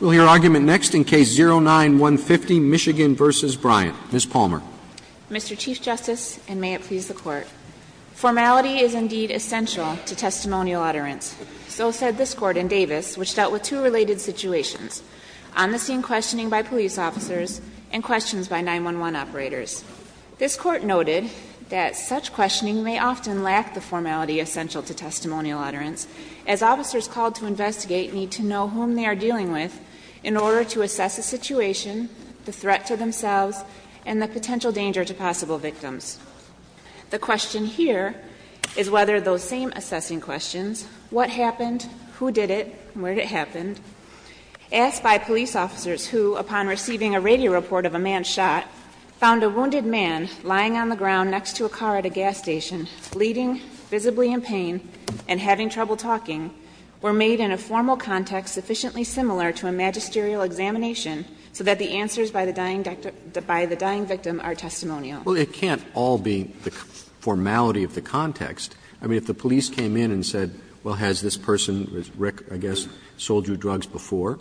Mr. Chief Justice, and may it please the Court, formality is indeed essential to testimonial utterance. So said this Court in Davis, which dealt with two related situations, on-the-scene questioning by police officers and questions by 9-1-1 operators. This Court noted that such questioning may often lack the formality essential to testimonial utterance, as officers called to investigate need to know whom they are dealing with in order to assess a situation, the threat to themselves, and the potential danger to possible victims. The question here is whether those same assessing questions, what happened, who did it, where did it happen, asked by police officers who, upon receiving a radio report of a man shot, found a wounded man lying on the ground next to a car at a gas station, bleeding, visibly in pain, and were made in a formal context sufficiently similar to a magisterial examination so that the answers by the dying victim are testimonial. Roberts Well, it can't all be the formality of the context. I mean, if the police came in and said, well, has this person, Rick, I guess, sold you drugs before,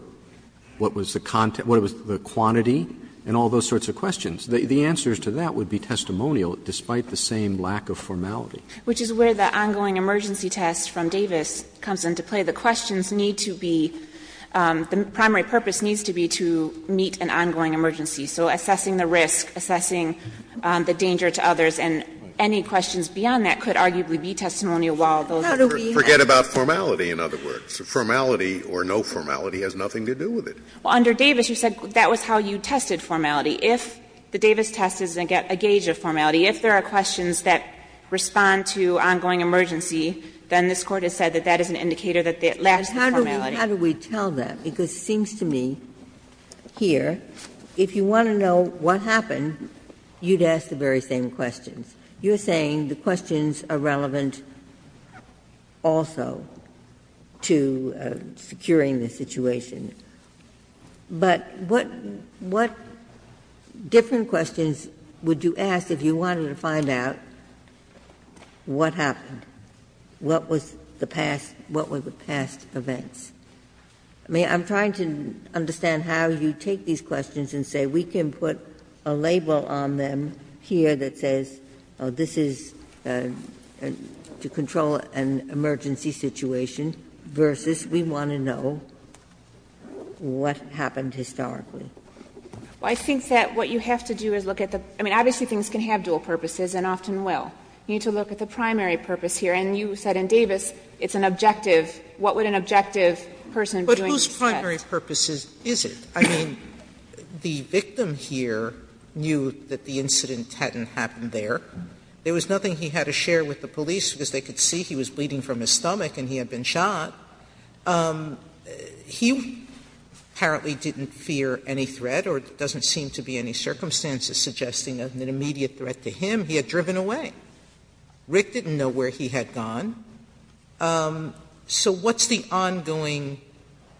what was the quantity and all those sorts of questions, the answers to that would be testimonial despite the same lack of formality. Harrington Which is where the ongoing emergency test from Davis comes into play. The questions need to be, the primary purpose needs to be to meet an ongoing emergency. So assessing the risk, assessing the danger to others, and any questions beyond that could arguably be testimonial while those others are not. Scalia Forget about formality, in other words. Formality or no formality has nothing to do with it. Harrington Well, under Davis you said that was how you tested formality. If the Davis test is a gauge of formality, if there are questions that respond to ongoing emergency, then this Court has said that that is an indicator that it lacks the formality. Ginsburg How do we tell that? Because it seems to me here, if you want to know what happened, you'd ask the very same questions. You're saying the questions are relevant also to securing the situation. But what different questions would you ask if you wanted to find out what happened, what was the past, what were the past events? I mean, I'm trying to understand how you take these questions and say we can put a label on them here that says, oh, this is to control an emergency situation, versus we want to know what happened historically. Harrington Well, I think that what you have to do is look at the – I mean, obviously things can have dual purposes and often will. You need to look at the primary purpose here. And you said in Davis it's an objective. What would an objective person be doing? Sotomayor But whose primary purpose is it? I mean, the victim here knew that the incident hadn't happened there. There was nothing he had to share with the police because they could see he was bleeding from his stomach and he had been shot. He apparently didn't fear any threat or there doesn't seem to be any circumstances suggesting an immediate threat to him. He had driven away. Rick didn't know where he had gone. So what's the ongoing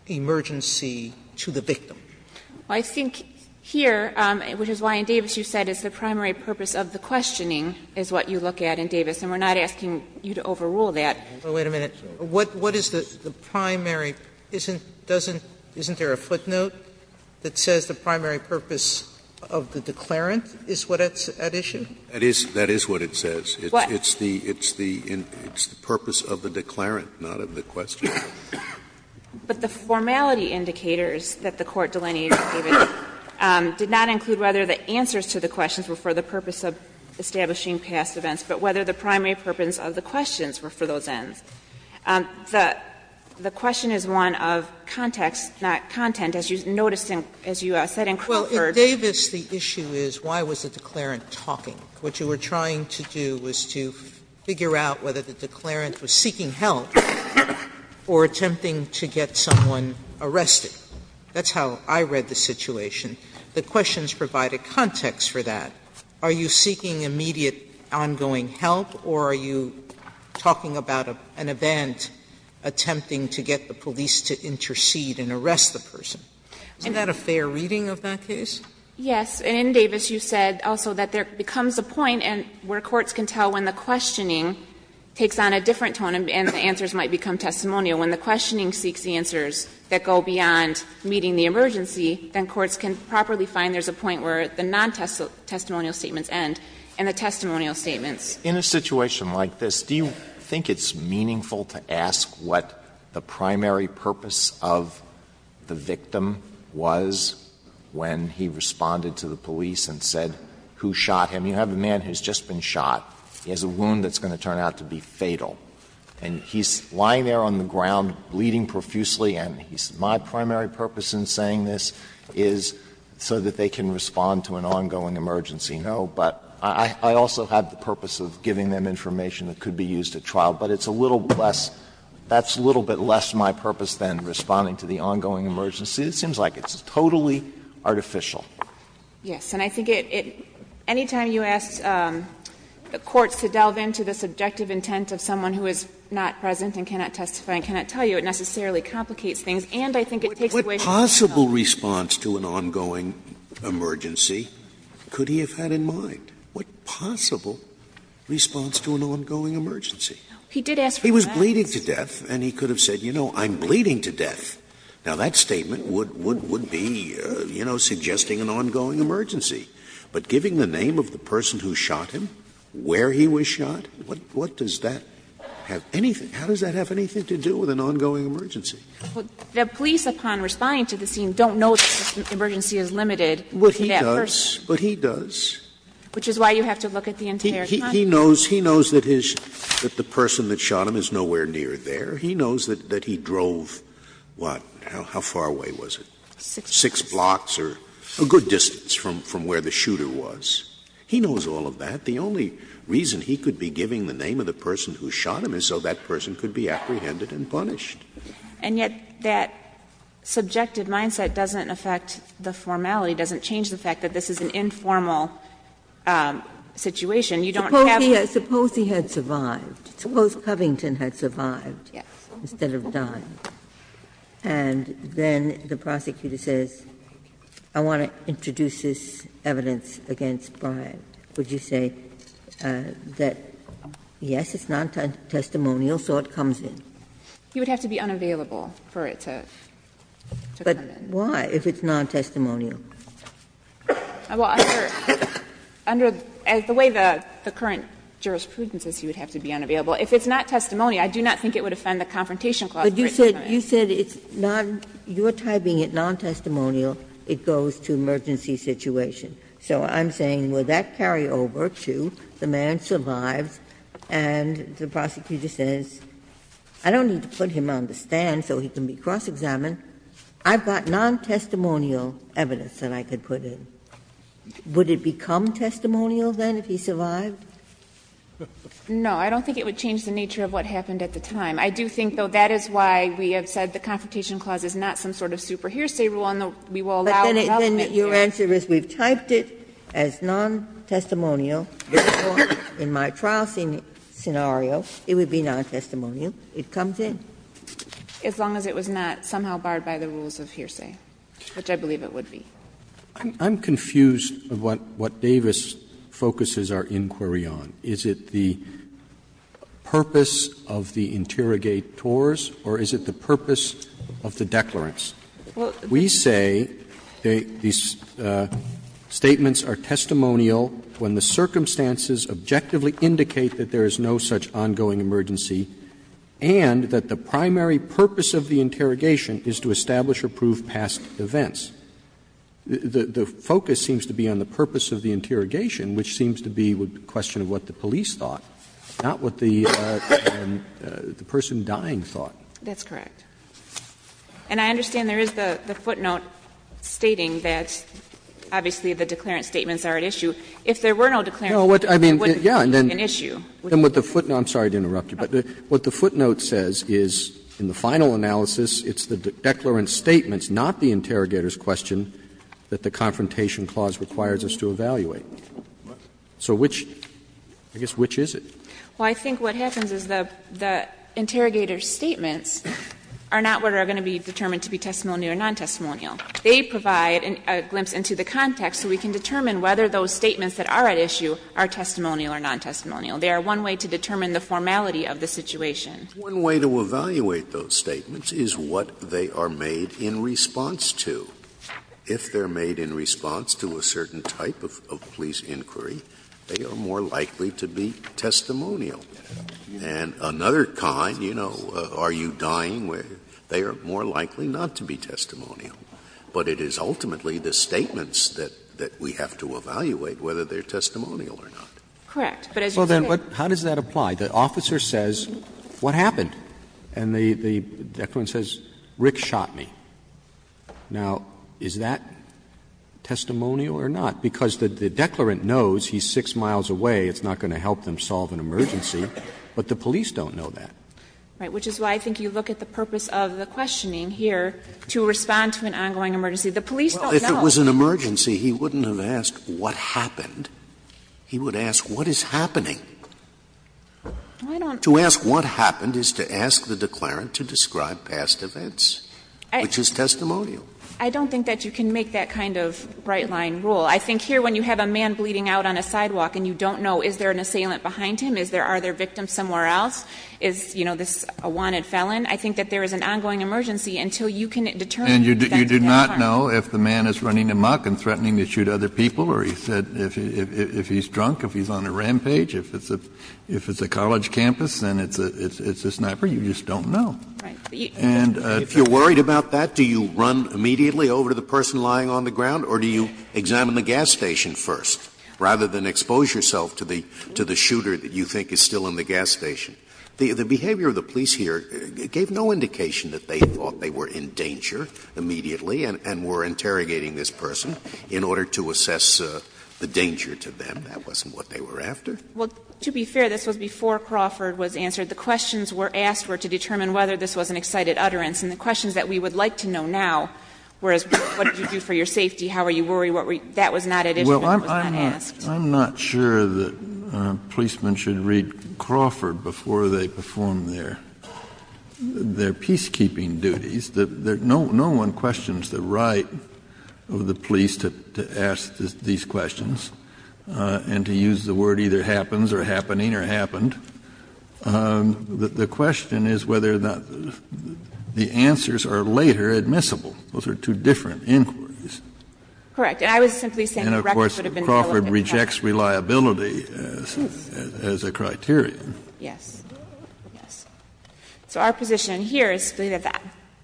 emergency to the victim? Sotomayor Well, I think here, which is why in Davis you said it's the primary purpose of the questioning, is what you look at in Davis. And we're not asking you to overrule that. Sotomayor Well, wait a minute. What is the primary? Isn't there a footnote that says the primary purpose of the declarant is what's at issue? That is what it says. Sotomayor It's the purpose of the declarant, not of the question. Sotomayor But the formality indicators that the Court delineated, David, did not include whether the answers to the questions were for the purpose of establishing past events, but whether the primary purpose of the questions were for those ends. The question is one of context, not content. As you noticed, as you said in Crawford. Sotomayor Well, in Davis the issue is why was the declarant talking? What you were trying to do was to figure out whether the declarant was seeking help or attempting to get someone arrested. That's how I read the situation. The questions provide a context for that. Are you seeking immediate ongoing help, or are you talking about an event attempting to get the police to intercede and arrest the person? Isn't that a fair reading of that case? Yes. And in Davis you said also that there becomes a point where courts can tell when the questioning takes on a different tone and the answers might become testimonial. When the questioning seeks the answers that go beyond meeting the emergency, then courts can properly find there's a point where the non-testimonial statements end and the testimonial statements. Alito In a situation like this, do you think it's meaningful to ask what the primary purpose of the victim was when he responded to the police and said, who shot him? You have a man who's just been shot. He has a wound that's going to turn out to be fatal. And he's lying there on the ground bleeding profusely, and he says, my primary purpose in saying this is so that they can respond to an ongoing emergency. No, but I also have the purpose of giving them information that could be used at trial, but it's a little less — that's a little bit less my purpose than responding to the ongoing emergency. It seems like it's totally artificial. Yes. And I think it — any time you ask the courts to delve into the subjective intent of someone who is not present and cannot testify and cannot tell you, it necessarily complicates things. And I think it takes away from the response. What possible response to an ongoing emergency could he have had in mind? What possible response to an ongoing emergency? He was bleeding to death, and he could have said, you know, I'm bleeding to death. Now, that statement would be, you know, suggesting an ongoing emergency. But giving the name of the person who shot him, where he was shot, what does that have anything — how does that have anything to do with an ongoing emergency? The police, upon responding to the scene, don't know that the emergency is limited to that person. But he does. But he does. Which is why you have to look at the entire context. He knows that his — that the person that shot him is nowhere near there. He knows that he drove, what, how far away was it? Six blocks or a good distance from where the shooter was. He knows all of that. The only reason he could be giving the name of the person who shot him is so that person could be apprehended and punished. And yet that subjective mindset doesn't affect the formality, doesn't change the fact that this is an informal situation. You don't have to — Ginsburg. Suppose he had survived. Suppose Covington had survived instead of died. And then the prosecutor says, I want to introduce this evidence against Bryant. Would you say that, yes, it's non-testimonial, so it comes in? He would have to be unavailable for it to come in. But why, if it's non-testimonial? Under the way the current jurisprudence is, he would have to be unavailable. If it's not testimony, I do not think it would offend the Confrontation Clause of Written Assignment. Ginsburg. You said it's non — you're typing it non-testimonial. It goes to emergency situation. So I'm saying, will that carry over to the man survives and the prosecutor says, I don't need to put him on the stand so he can be cross-examined. I've got non-testimonial evidence that I could put in. Would it become testimonial, then, if he survived? No. I don't think it would change the nature of what happened at the time. I do think, though, that is why we have said the Confrontation Clause is not some sort of superhearsay rule, and we will allow the government to do it. But then your answer is, we've typed it as non-testimonial. In my trial scenario, it would be non-testimonial. It comes in. As long as it was not somehow barred by the rules of hearsay, which I believe it would be. Roberts. I'm confused of what Davis focuses our inquiry on. Is it the purpose of the interrogators, or is it the purpose of the declarants? We say these statements are testimonial when the circumstances objectively indicate that there is no such ongoing emergency, and that the primary purpose of the interrogation is to establish or prove past events. The focus seems to be on the purpose of the interrogation, which seems to be a question of what the police thought, not what the person dying thought. That's correct. And I understand there is the footnote stating that, obviously, the declarant If there were no declarant statements, it wouldn't be. No, I mean, yeah, and then what the footnote, I'm sorry to interrupt you, but what the footnote says is, in the final analysis, it's the declarant statements, not the interrogator's question, that the Confrontation Clause requires us to evaluate. So which, I guess, which is it? Well, I think what happens is the interrogator's statements are not what are going to be determined to be testimonial or non-testimonial. They provide a glimpse into the context, so we can determine whether those statements that are at issue are testimonial or non-testimonial. They are one way to determine the formality of the situation. One way to evaluate those statements is what they are made in response to. If they are made in response to a certain type of police inquiry, they are more likely to be testimonial. And another kind, you know, are you dying, they are more likely not to be testimonial. But it is ultimately the statements that we have to evaluate whether they are testimonial or not. But as you say, Well, then how does that apply? The officer says, what happened? And the declarant says, Rick shot me. Now, is that testimonial or not? Because the declarant knows he's 6 miles away, it's not going to help them solve an emergency, but the police don't know that. Right. Which is why I think you look at the purpose of the questioning here to respond to an ongoing emergency. The police don't know. Well, if it was an emergency, he wouldn't have asked what happened. He would ask what is happening. I don't To ask what happened is to ask the declarant to describe past events, which is testimonial. I don't think that you can make that kind of right-line rule. I think here when you have a man bleeding out on a sidewalk and you don't know is there an assailant behind him, is there, are there victims somewhere else, is, you know, this a wanted felon, I think that there is an ongoing emergency until you can determine And you do not know if the man is running amok and threatening to shoot other people or he said if he's drunk, if he's on a rampage, if it's a, if it's a college campus and it's a, it's a sniper, you just don't know. Right. And if you're worried about that, do you run immediately over to the person lying on the ground or do you examine the gas station first, rather than expose yourself to the, to the shooter that you think is still in the gas station? The behavior of the police here gave no indication that they thought they were in danger immediately and were interrogating this person in order to assess the danger to them. That wasn't what they were after. Well, to be fair, this was before Crawford was answered. The questions were asked were to determine whether this was an excited utterance and the questions that we would like to know now were, what did you do for your safety? How were you worried? What were you, that was not an issue that was not asked. Well, I'm not, I'm not sure that policemen should read Crawford before they perform their, their peacekeeping duties. No one questions the right of the police to ask these questions and to use the word either happens or happening or happened. The question is whether the answers are later admissible. Those are two different inquiries. Correct. And I was simply saying the record would have been relevant. And, of course, Crawford rejects reliability as a criteria. Yes. Yes. So our position here is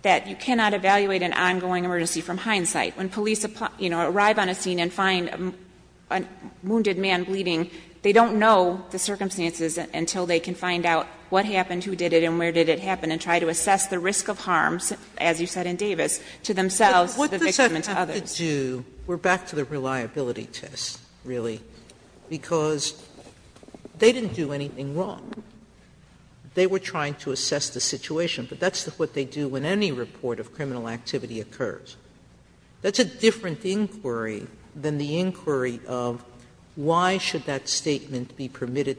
that you cannot evaluate an ongoing emergency from hindsight. When police, you know, arrive on a scene and find a wounded man bleeding, they don't know the circumstances until they can find out what happened, who did it, and where did it happen, and try to assess the risk of harms, as you said in Davis, to themselves, the victim, and to others. But what does that have to do, we're back to the reliability test, really, because they didn't do anything wrong. They were trying to assess the situation. But that's what they do when any report of criminal activity occurs. That's a different inquiry than the inquiry of why should that statement be permitted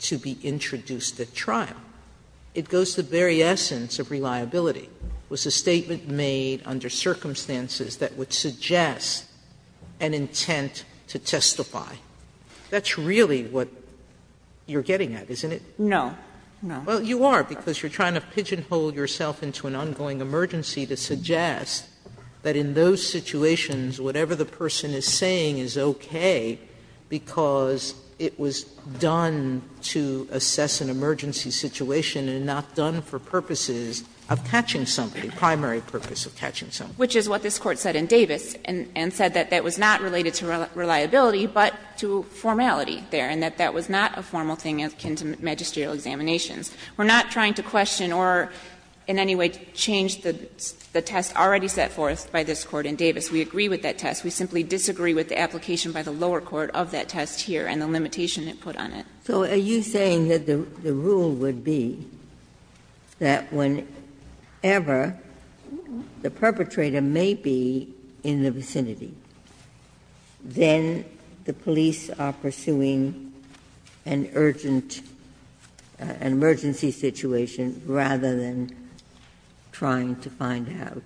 to be introduced at trial. It goes to the very essence of reliability. Was the statement made under circumstances that would suggest an intent to testify? That's really what you're getting at, isn't it? No. No. Well, you are, because you're trying to pigeonhole yourself into an ongoing emergency to suggest that in those situations, whatever the person is saying is okay, because it was done to assess an emergency situation and not done for purposes of catching somebody, primary purpose of catching somebody. Which is what this Court said in Davis, and said that that was not related to reliability, but to formality there, and that that was not a formal thing akin to magisterial examinations. We're not trying to question or in any way change the test already set forth by this Court in Davis. We agree with that test. We simply disagree with the application by the lower court of that test here and the limitation it put on it. Ginsburg. So are you saying that the rule would be that whenever the perpetrator may be in the scene, the police are pursuing an urgent, an emergency situation rather than trying to find out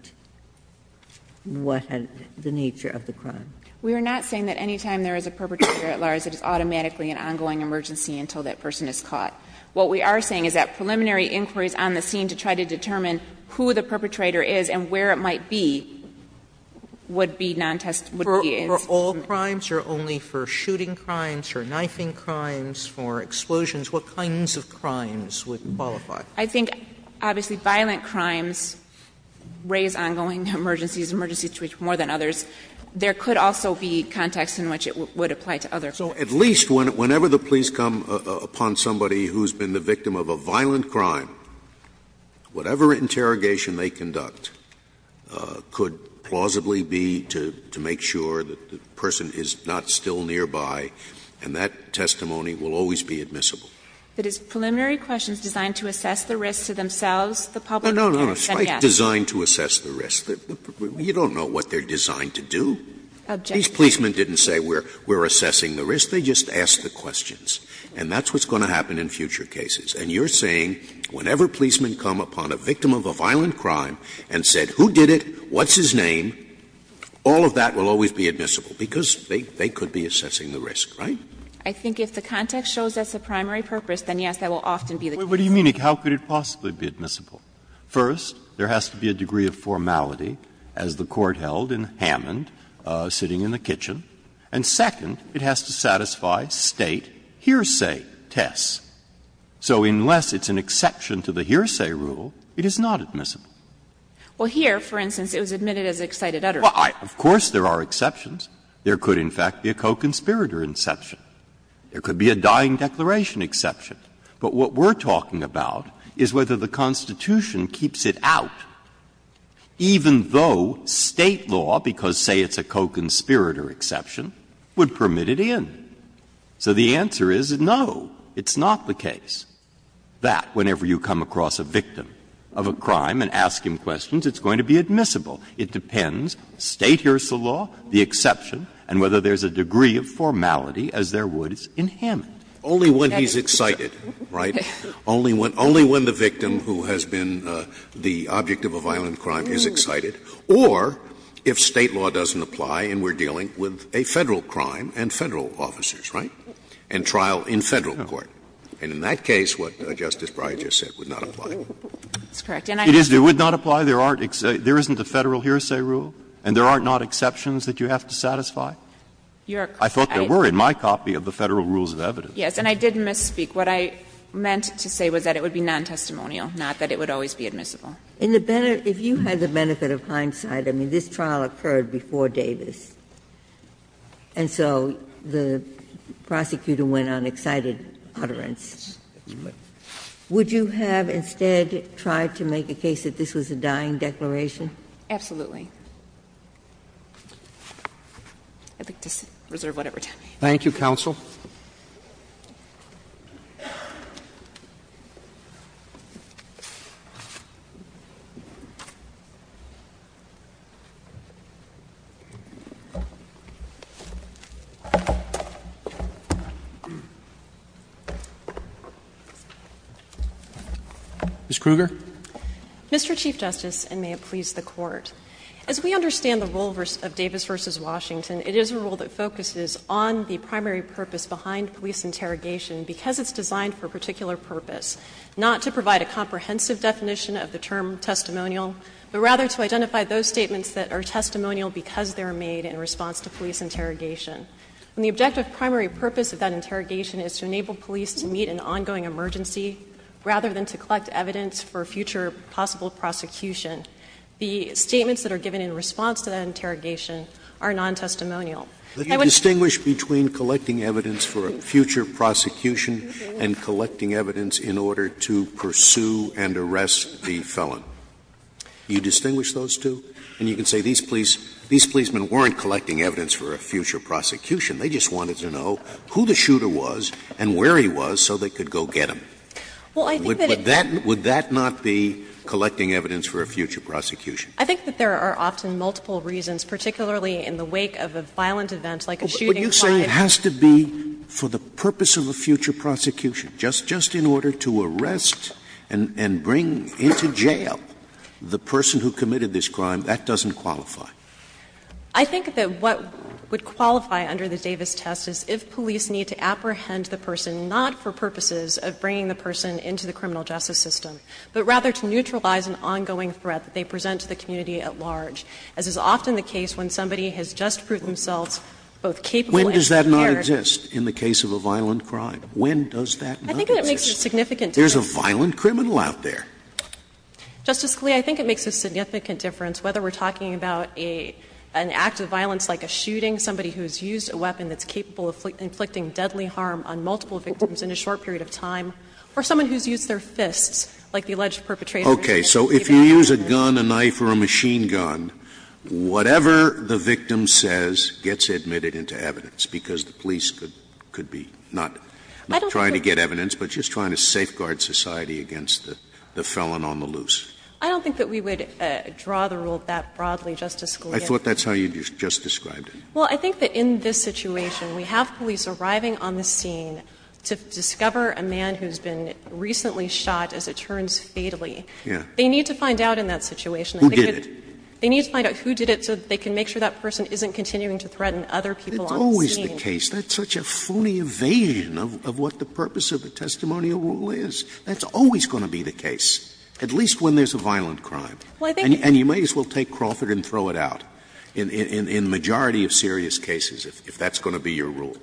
what had the nature of the crime? We are not saying that any time there is a perpetrator at large, it is automatically an ongoing emergency until that person is caught. What we are saying is that preliminary inquiries on the scene to try to determine who the perpetrator is and where it might be would be non-testimony. For all crimes or only for shooting crimes or knifing crimes, for explosions, what kinds of crimes would qualify? I think, obviously, violent crimes raise ongoing emergencies, emergency situations more than others. There could also be contexts in which it would apply to other crimes. So at least whenever the police come upon somebody who has been the victim of a violent crime, whatever interrogation they conduct could plausibly be to make sure that the person is not still nearby, and that testimony will always be admissible. But is preliminary questions designed to assess the risks to themselves, the public or the defendants? No, no, no. It's not designed to assess the risks. You don't know what they are designed to do. Objection. These policemen didn't say we are assessing the risks. They just asked the questions. And that's what's going to happen in future cases. And you are saying whenever policemen come upon a victim of a violent crime and said, who did it, what's his name, all of that will always be admissible, because they could be assessing the risk, right? I think if the context shows that's the primary purpose, then, yes, that will often be the case. What do you mean? How could it possibly be admissible? First, there has to be a degree of formality, as the Court held in Hammond, sitting in the kitchen. And second, it has to satisfy State hearsay tests. So unless it's an exception to the hearsay rule, it is not admissible. Well, here, for instance, it was admitted as an excited utterance. Well, of course there are exceptions. There could, in fact, be a co-conspirator exception. There could be a dying declaration exception. But what we're talking about is whether the Constitution keeps it out, even though State law, because, say, it's a co-conspirator exception, would permit it in. So the answer is no. It's not the case that whenever you come across a victim of a crime and ask him questions, it's going to be admissible. It depends, State hears the law, the exception, and whether there's a degree of formality as there would in Hammond. Scalia. Only when he's excited, right? Only when the victim who has been the object of a violent crime is excited. Or if State law doesn't apply and we're dealing with a Federal crime and Federal officers, right? And trial in Federal court. And in that case, what Justice Breyer just said would not apply. It's correct. And I understand. Breyer. It would not apply? There isn't a Federal hearsay rule? And there are not exceptions that you have to satisfy? I thought there were in my copy of the Federal Rules of Evidence. Yes. And I did misspeak. What I meant to say was that it would be non-testimonial, not that it would always be admissible. If you had the benefit of hindsight, I mean, this trial occurred before Davis. And so the prosecutor went on excited utterance. Would you have instead tried to make a case that this was a dying declaration? Absolutely. I'd like to reserve whatever time I have. Thank you, counsel. Ms. Kruger. Mr. Chief Justice, and may it please the Court. As we understand the role of Davis v. Washington, it is a role that focuses on the primary purpose behind police interrogation because it's designed for a particular purpose, not to provide a comprehensive definition of the term testimonial, but rather to identify those statements that are testimonial because they are made in response to police interrogation. And the objective primary purpose of that interrogation is to enable police to meet an ongoing emergency rather than to collect evidence for future possible prosecution. The statements that are given in response to that interrogation are non-testimonial. I would Would you distinguish between collecting evidence for a future prosecution and collecting evidence in order to pursue and arrest the felon? You distinguish those two? And you can say these policemen weren't collecting evidence for a future prosecution. They just wanted to know who the shooter was and where he was so they could go get him. Well, I think that it's Would that not be collecting evidence for a future prosecution? I think that there are often multiple reasons, particularly in the wake of a violent event like a shooting crime. But you say it has to be for the purpose of a future prosecution. Just in order to arrest and bring into jail the person who committed this crime, that doesn't qualify. I think that what would qualify under the Davis test is if police need to apprehend the person not for purposes of bringing the person into the criminal justice system, but rather to neutralize an ongoing threat that they present to the community at large, as is often the case when somebody has just proved themselves both capable When does that not exist in the case of a violent crime? When does that not exist? I think it makes a significant difference. There's a violent criminal out there. Justice Scalia, I think it makes a significant difference whether we're talking about an act of violence like a shooting, somebody who's used a weapon that's capable of inflicting deadly harm on multiple victims in a short period of time, or someone who's used their fists, like the alleged perpetrator. Okay. So if you use a gun, a knife, or a machine gun, whatever the victim says gets admitted into evidence, because the police could be not trying to get evidence, but just trying to safeguard society against the felon on the loose. I don't think that we would draw the rule that broadly, Justice Scalia. I thought that's how you just described it. Well, I think that in this situation, we have police arriving on the scene to discover a man who's been recently shot as it turns fatally. Yeah. They need to find out in that situation. Who did it? They need to find out who did it so that they can make sure that person isn't continuing to threaten other people on the scene. That's always the case. That's such a phony evasion of what the purpose of the testimonial rule is. That's always going to be the case, at least when there's a violent crime. Well, I think that's true. And you may as well take Crawford and throw it out in majority of serious cases if that's going to be your rule.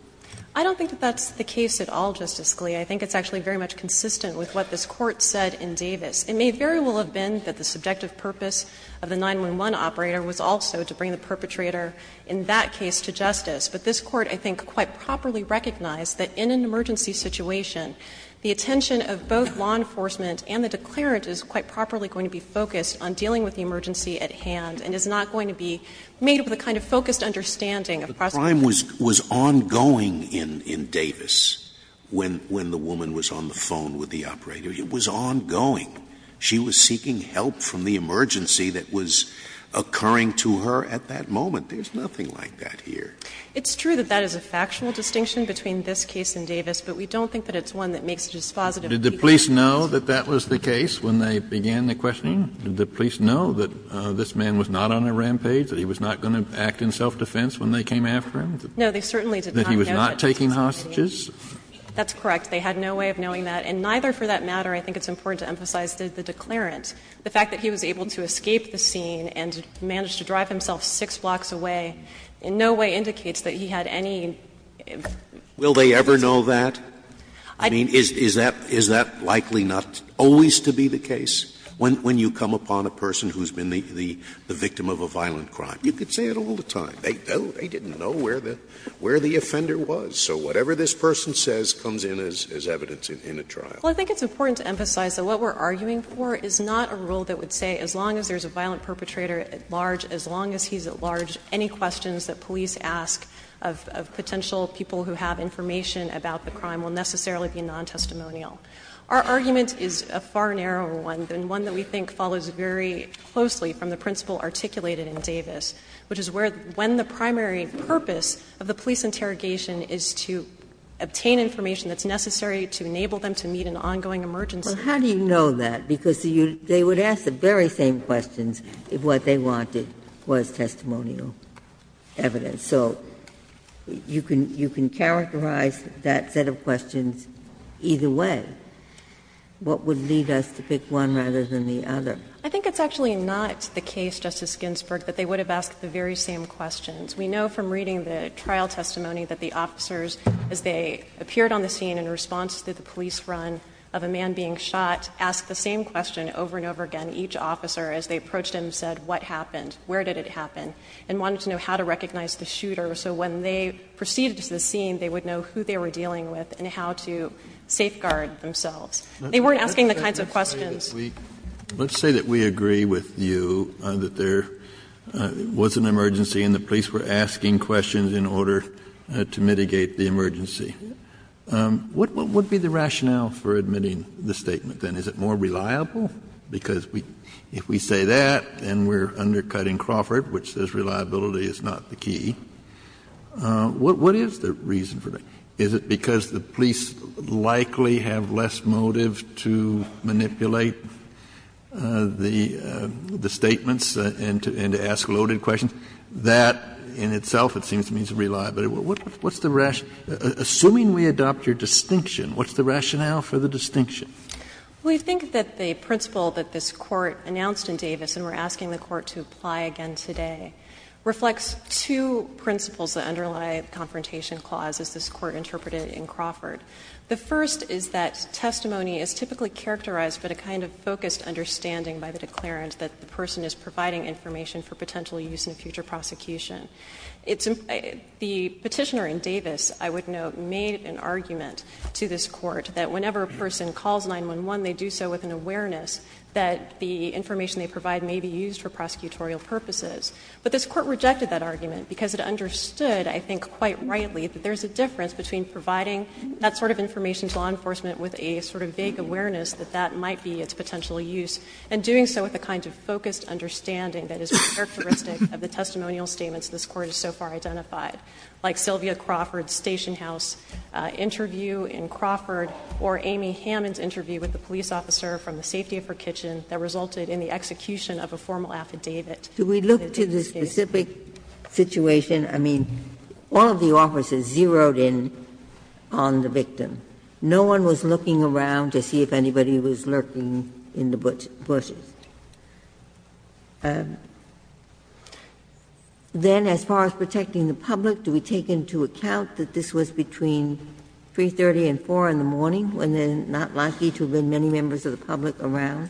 I don't think that that's the case at all, Justice Scalia. I think it's actually very much consistent with what this Court said in Davis. It may very well have been that the subjective purpose of the 911 operator was also to bring the perpetrator in that case to justice. But this Court, I think, quite properly recognized that in an emergency situation, the attention of both law enforcement and the declarant is quite properly going to be focused on dealing with the emergency at hand and is not going to be made with a kind of focused understanding of prosecution. Scalia, the crime was ongoing in Davis when the woman was on the phone with the operator. It was ongoing. She was seeking help from the emergency that was occurring to her at that moment. There's nothing like that here. It's true that that is a factual distinction between this case and Davis, but we don't think that it's one that makes a dispositive case. Did the police know that that was the case when they began the questioning? Did the police know that this man was not on a rampage, that he was not going to act in self-defense when they came after him, that he was not taking hostages? That's correct. They had no way of knowing that. And neither, for that matter, I think it's important to emphasize, did the declarant. The fact that he was able to escape the scene and managed to drive himself six blocks away in no way indicates that he had any evidence. Scalia, will they ever know that? I mean, is that likely not always to be the case when you come upon a person who's been the victim of a violent crime? You could say it all the time. They don't. They didn't know where the offender was. So whatever this person says comes in as evidence in a trial. Well, I think it's important to emphasize that what we're arguing for is not a rule that would say as long as there's a violent perpetrator at large, as long as he's at large, any questions that police ask of potential people who have information about the crime will necessarily be non-testimonial. Our argument is a far narrower one than one that we think follows very closely from the principle articulated in Davis, which is where, when the primary purpose of the police interrogation is to obtain information that's necessary to enable them to meet an ongoing emergency. Well, how do you know that? Because they would ask the very same questions if what they wanted was testimonial evidence. So you can characterize that set of questions either way. What would lead us to pick one rather than the other? I think it's actually not the case, Justice Ginsburg, that they would have asked the very same questions. We know from reading the trial testimony that the officers, as they appeared on the scene in response to the police run of a man being shot, asked the same question over and over again, each officer, as they approached him, said what happened, where did it happen, and wanted to know how to recognize the shooter. So when they proceeded to the scene, they would know who they were dealing with and how to safeguard themselves. They weren't asking the kinds of questions. Kennedy, let's say that we agree with you that there was an emergency and the police were asking questions in order to mitigate the emergency. What would be the rationale for admitting the statement, then? Is it more reliable? Because if we say that, then we're undercutting Crawford, which says reliability is not the key. What is the reason for that? Is it because the police likely have less motive to manipulate the statements and to ask loaded questions? That in itself, it seems to me, is reliable. What's the rationale? Assuming we adopt your distinction, what's the rationale for the distinction? Well, you think that the principle that this Court announced in Davis, and we're asking the Court to apply again today, reflects two principles that underlie the two principles that this Court interpreted in Crawford. The first is that testimony is typically characterized by the kind of focused understanding by the declarant that the person is providing information for potential use in a future prosecution. The Petitioner in Davis, I would note, made an argument to this Court that whenever a person calls 911, they do so with an awareness that the information they provide may be used for prosecutorial purposes. But this Court rejected that argument because it understood, I think quite rightly, that there's a difference between providing that sort of information to law enforcement with a sort of vague awareness that that might be its potential use, and doing so with a kind of focused understanding that is characteristic of the testimonial statements this Court has so far identified, like Sylvia Crawford's stationhouse interview in Crawford, or Amy Hammond's interview with the police officer from the safety of her kitchen that resulted in the execution of a formal affidavit. Ginsburg. Do we look to the specific situation? I mean, all of the officers zeroed in on the victim. No one was looking around to see if anybody was lurking in the bushes. Then, as far as protecting the public, do we take into account that this was between 3.30 and 4.00 in the morning, when they're not likely to have been many members of the public around?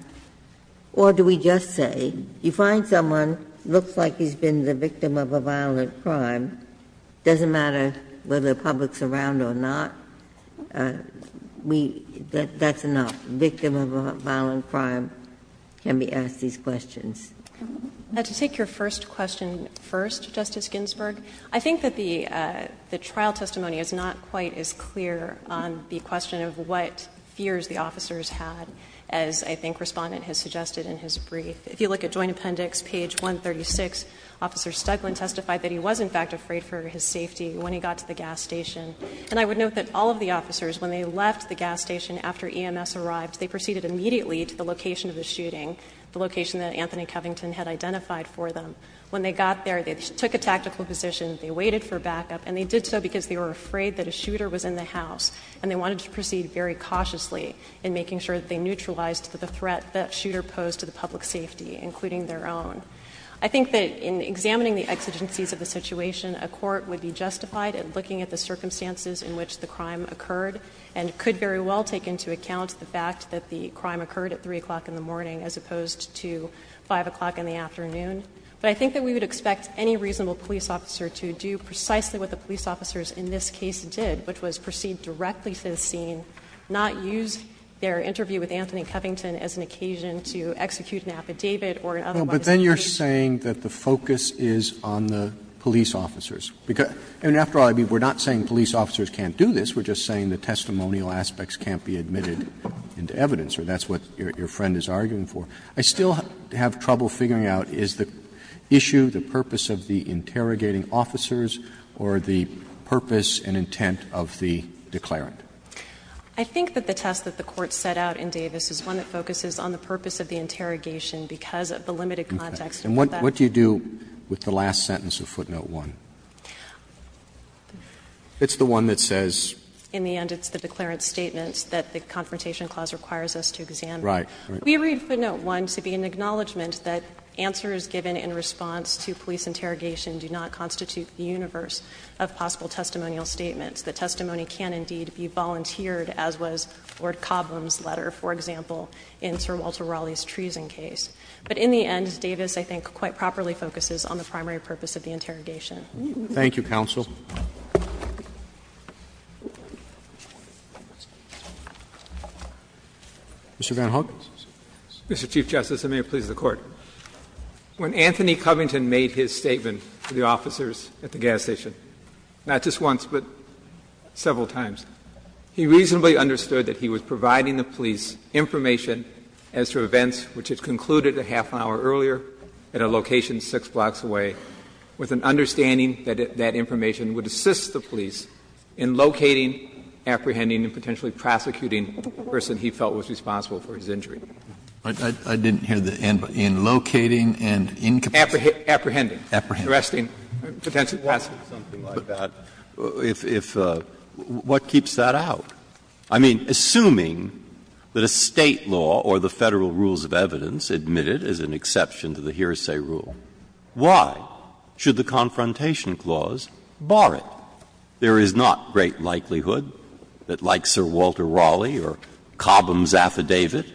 Or do we just say, you find someone, looks like he's been the victim of a violent crime, doesn't matter whether the public's around or not, we — that's enough. A victim of a violent crime can be asked these questions. To take your first question first, Justice Ginsburg, I think that the trial testimony is not quite as clear on the question of what fears the officers had as, I think, the respondent has suggested in his brief. If you look at Joint Appendix, page 136, Officer Stuglin testified that he was, in fact, afraid for his safety when he got to the gas station. And I would note that all of the officers, when they left the gas station after EMS arrived, they proceeded immediately to the location of the shooting, the location that Anthony Covington had identified for them. When they got there, they took a tactical position, they waited for backup, and they did so because they were afraid that a shooter was in the house, and they wanted to proceed very cautiously in making sure that they neutralized the threat that shooter posed to the public safety, including their own. I think that in examining the exigencies of the situation, a court would be justified in looking at the circumstances in which the crime occurred and could very well take into account the fact that the crime occurred at 3 o'clock in the morning as opposed to 5 o'clock in the afternoon. But I think that we would expect any reasonable police officer to do precisely what the police officers in this case did, which was proceed directly to the scene, not use their interview with Anthony Covington as an occasion to execute an affidavit or an otherwise deliberate case. Roberts, but then you're saying that the focus is on the police officers. And after all, I mean, we're not saying police officers can't do this. We're just saying the testimonial aspects can't be admitted into evidence, or that's what your friend is arguing for. I still have trouble figuring out is the issue, the purpose of the interrogating officers, or the purpose and intent of the declarant. I think that the test that the Court set out in Davis is one that focuses on the purpose of the interrogation because of the limited context. And what do you do with the last sentence of Footnote 1? It's the one that says? In the end, it's the declarant statement that the Confrontation Clause requires us to examine. Right. We read Footnote 1 to be an acknowledgment that answers given in response to police interrogation do not constitute the universe of possible testimonial statements. The testimony can indeed be volunteered, as was Lord Cobham's letter, for example, in Sir Walter Raleigh's treason case. But in the end, Davis, I think, quite properly focuses on the primary purpose of the interrogation. Roberts. Thank you, counsel. Mr. VanHook. Mr. Chief Justice, and may it please the Court. When Anthony Covington made his statement to the officers at the gas station, not just once but several times, he reasonably understood that he was providing the police information as to events which had concluded a half-hour earlier at a location 6 blocks away, with an understanding that that information would assist the police in locating, apprehending, and potentially prosecuting the person he felt was responsible for his injury. I didn't hear the end part. In locating and incapacitating. Apprehending. Apprehending. Arresting. Potentially arresting. Something like that. If what keeps that out? I mean, assuming that a State law or the Federal rules of evidence admit it as an exception to the hearsay rule, why should the Confrontation Clause bar it? There is not great likelihood that, like Sir Walter Raleigh or Cobham's affidavit,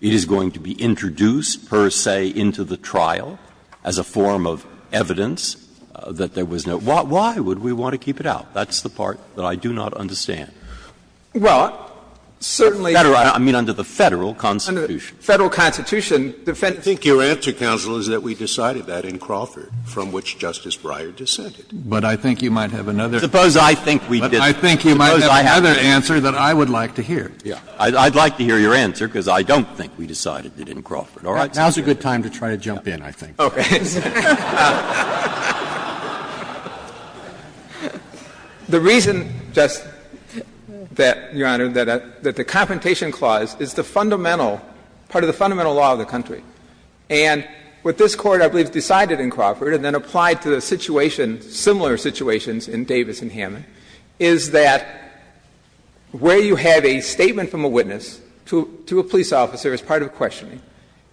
it is going to be introduced, per se, into the trial as a form of evidence that there was no ---- why would we want to keep it out? That's the part that I do not understand. Well, certainly under the Federal Constitution. Federal Constitution. I think your answer, counsel, is that we decided that in Crawford, from which Justice Breyer descended. But I think you might have another. Suppose I think we did. But I think you might have another answer that I would like to hear. I'd like to hear your answer, because I don't think we decided it in Crawford. All right? Now is a good time to try to jump in, I think. Okay. The reason, Justice, that, Your Honor, that the Confrontation Clause is the fundamental ---- part of the fundamental law of the country. And what this Court, I believe, decided in Crawford and then applied to the situation in Davis and Hammond, is that where you have a statement from a witness to a police officer as part of a questioning,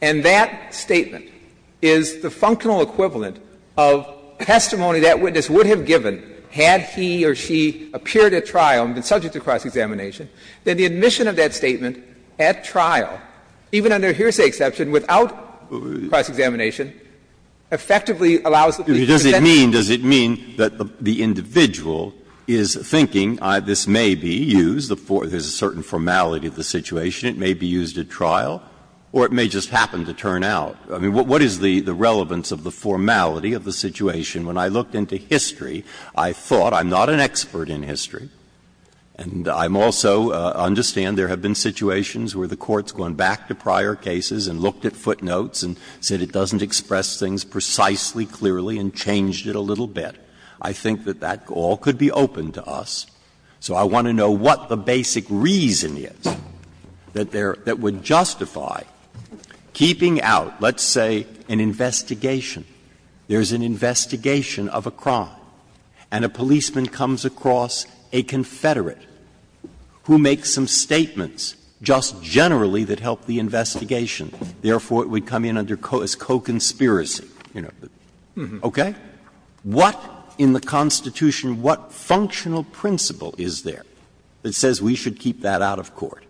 and that statement is the functional equivalent of testimony that witness would have given had he or she appeared at trial and been subject to cross-examination, then the admission of that statement at trial, even under hearsay exception, without cross-examination, effectively allows the police to present the evidence. Breyer, does it mean that the individual is thinking this may be used, there is a certain formality of the situation, it may be used at trial, or it may just happen to turn out? I mean, what is the relevance of the formality of the situation? When I looked into history, I thought, I'm not an expert in history, and I'm also I understand there have been situations where the Court's gone back to prior cases and looked at footnotes and said it doesn't express things precisely, clearly, and changed it a little bit. I think that that all could be open to us. So I want to know what the basic reason is that would justify keeping out, let's say, an investigation. There is an investigation of a crime, and a policeman comes across a confederate who makes some statements just generally that help the investigation. Therefore, it would come in as co-conspiracy, you know. Okay? What in the Constitution, what functional principle is there that says we should keep that out of court?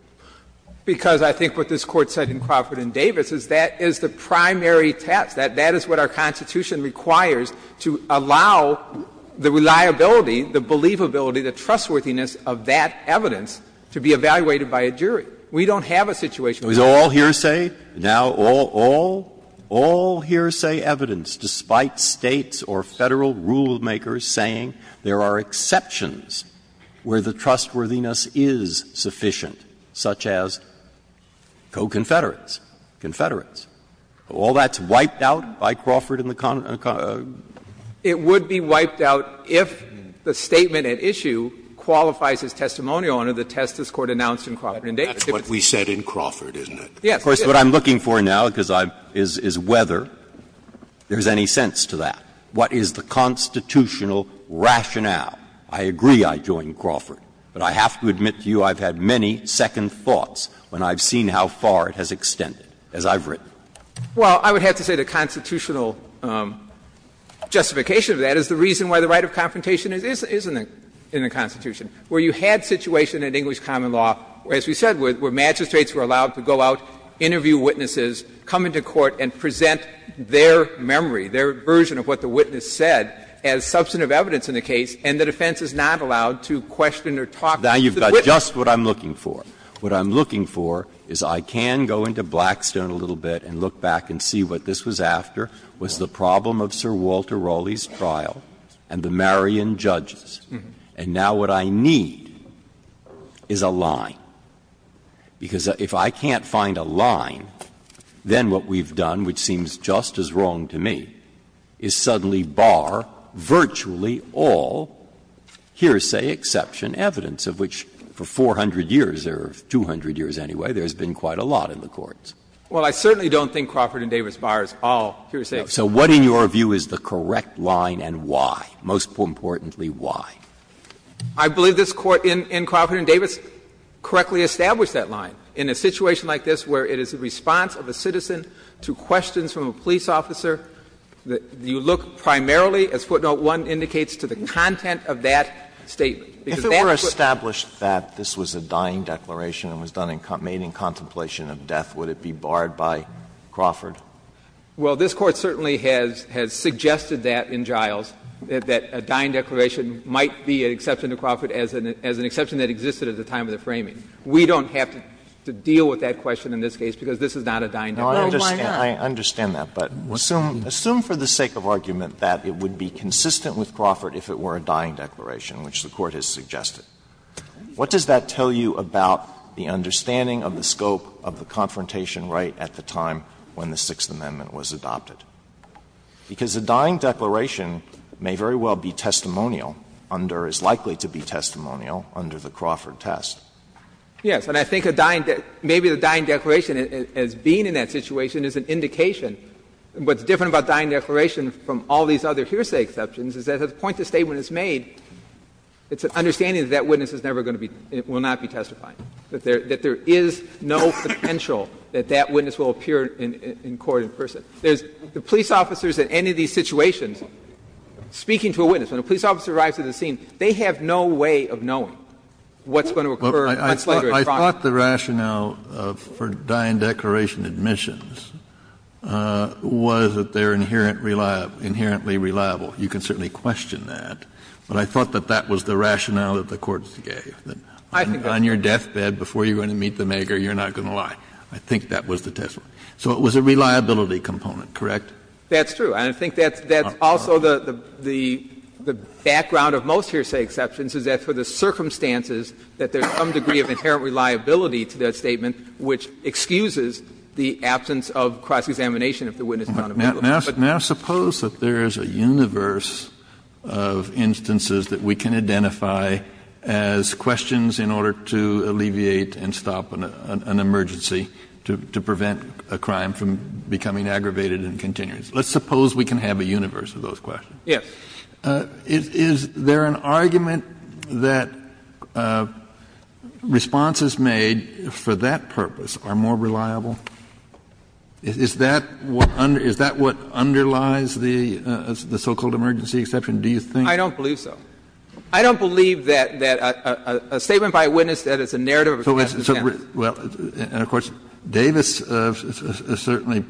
Because I think what this Court said in Crawford and Davis is that is the primary test, that that is what our Constitution requires to allow the reliability, the believability, the trustworthiness of that evidence to be evaluated by a jury. We don't have a situation where we don't. Breyer. All hearsay? Now, all hearsay evidence, despite States or Federal rulemakers saying there are exceptions where the trustworthiness is sufficient, such as co-confederates, confederates. All that's wiped out by Crawford and the Connors? It would be wiped out if the statement at issue qualifies as testimonial under the test this Court announced in Crawford and Davis. That's what we said in Crawford, isn't it? Yes. Of course, what I'm looking for now is whether there's any sense to that. What is the constitutional rationale? I agree I joined Crawford, but I have to admit to you I've had many second thoughts when I've seen how far it has extended, as I've written. Well, I would have to say the constitutional justification of that is the reason why the right of confrontation is in the Constitution, where you had situation in English common law, as we said, where magistrates were allowed to go out, interview witnesses, come into court, and present their memory, their version of what the witness said as substantive evidence in the case, and the defense is not allowed to question or talk to the witness. Now, you've got just what I'm looking for. What I'm looking for is I can go into Blackstone a little bit and look back and see what this was after, was the problem of Sir Walter Raleigh's trial and the Marion judges, and now what I need is a line. Because if I can't find a line, then what we've done, which seems just as wrong to me, is suddenly bar virtually all hearsay, exception, evidence of which for 400 years, or 200 years anyway, there's been quite a lot in the courts. Well, I certainly don't think Crawford and Davis bars all hearsay. So what in your view is the correct line and why, most importantly, why? I believe this Court in Crawford and Davis correctly established that line. In a situation like this where it is a response of a citizen to questions from a police officer, you look primarily, as footnote 1 indicates, to the content of that statement. If it were established that this was a dying declaration and was made in contemplation of death, would it be barred by Crawford? Well, this Court certainly has suggested that in Giles, that a dying declaration might be an exception to Crawford as an exception that existed at the time of the framing. We don't have to deal with that question in this case because this is not a dying declaration. Sotomayor, I understand that, but assume for the sake of argument that it would be consistent with Crawford if it were a dying declaration, which the Court has suggested. What does that tell you about the understanding of the scope of the confrontation right at the time when the Sixth Amendment was adopted? Because a dying declaration may very well be testimonial under, is likely to be testimonial under the Crawford test. Yes, and I think a dying declaration, maybe a dying declaration as being in that situation is an indication. What's different about a dying declaration from all these other hearsay exceptions is that at the point the statement is made, it's an understanding that that witness is never going to be, will not be testifying, that there is no potential that that witness will appear in court in person. There's the police officers in any of these situations speaking to a witness, when a police officer arrives at the scene, they have no way of knowing what's going to occur much later in Crawford. Kennedy, I thought the rationale for dying declaration admissions was that they are inherently reliable. You can certainly question that, but I thought that that was the rationale that the Court gave. On your deathbed before you're going to meet the maker, you're not going to lie. I think that was the testimony. So it was a reliability component, correct? That's true. And I think that's also the background of most hearsay exceptions, is that for the witness, there is a reliability to that statement which excuses the absence of cross-examination if the witness is unavailable. Kennedy, but now suppose that there is a universe of instances that we can identify as questions in order to alleviate and stop an emergency to prevent a crime from becoming aggravated and continuous. Let's suppose we can have a universe of those questions. Yes. Kennedy, is there an argument that responses made for that purpose are more reliable? Is that what underlies the so-called emergency exception, do you think? I don't believe so. I don't believe that a statement by a witness that is a narrative of a question of evidence. Well, and of course, Davis certainly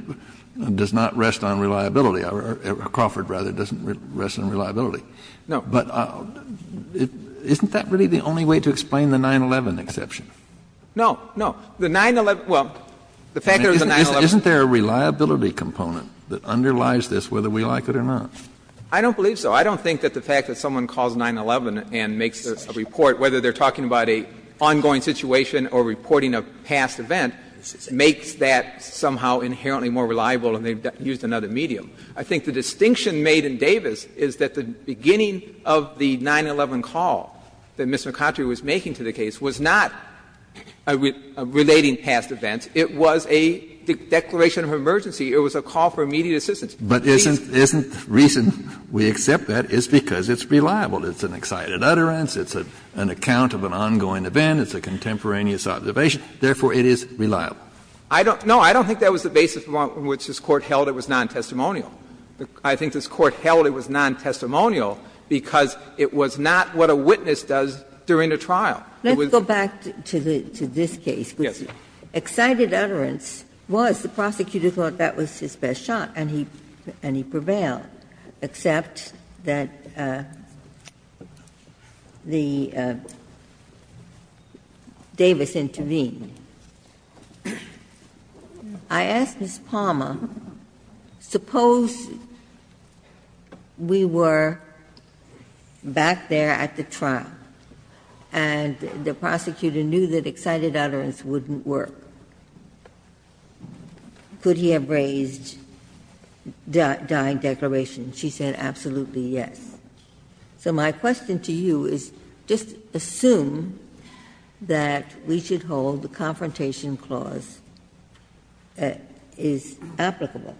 does not rest on reliability, or Crawford, rather, doesn't rest on reliability. No. But isn't that really the only way to explain the 9-11 exception? No, no. The 9-11, well, the fact that there's a 9-11. Isn't there a reliability component that underlies this, whether we like it or not? I don't believe so. I don't think that the fact that someone calls 9-11 and makes a report, whether they're talking about an ongoing situation or reporting a past event, makes that somehow inherently more reliable and they've used another medium. I think the distinction made in Davis is that the beginning of the 9-11 call that Ms. McCountry was making to the case was not a relating past event. It was a declaration of emergency. It was a call for immediate assistance. But isn't the reason we accept that is because it's reliable. It's an excited utterance. It's an account of an ongoing event. It's a contemporaneous observation. Therefore, it is reliable. I don't know. I don't think that was the basis on which this Court held it was nontestimonial. I think this Court held it was nontestimonial because it was not what a witness does during a trial. It was not. Ginsburg. Let's go back to this case. Yes, Your Honor. Excited utterance was the prosecutor thought that was his best shot and he prevailed, except that the Davis intervened. I asked Ms. Palmer, suppose we were back there at the trial and the prosecutor knew that excited utterance wouldn't work. Could he have raised dying declaration? She said, absolutely, yes. So my question to you is just assume that we should hold the confrontation clause is applicable.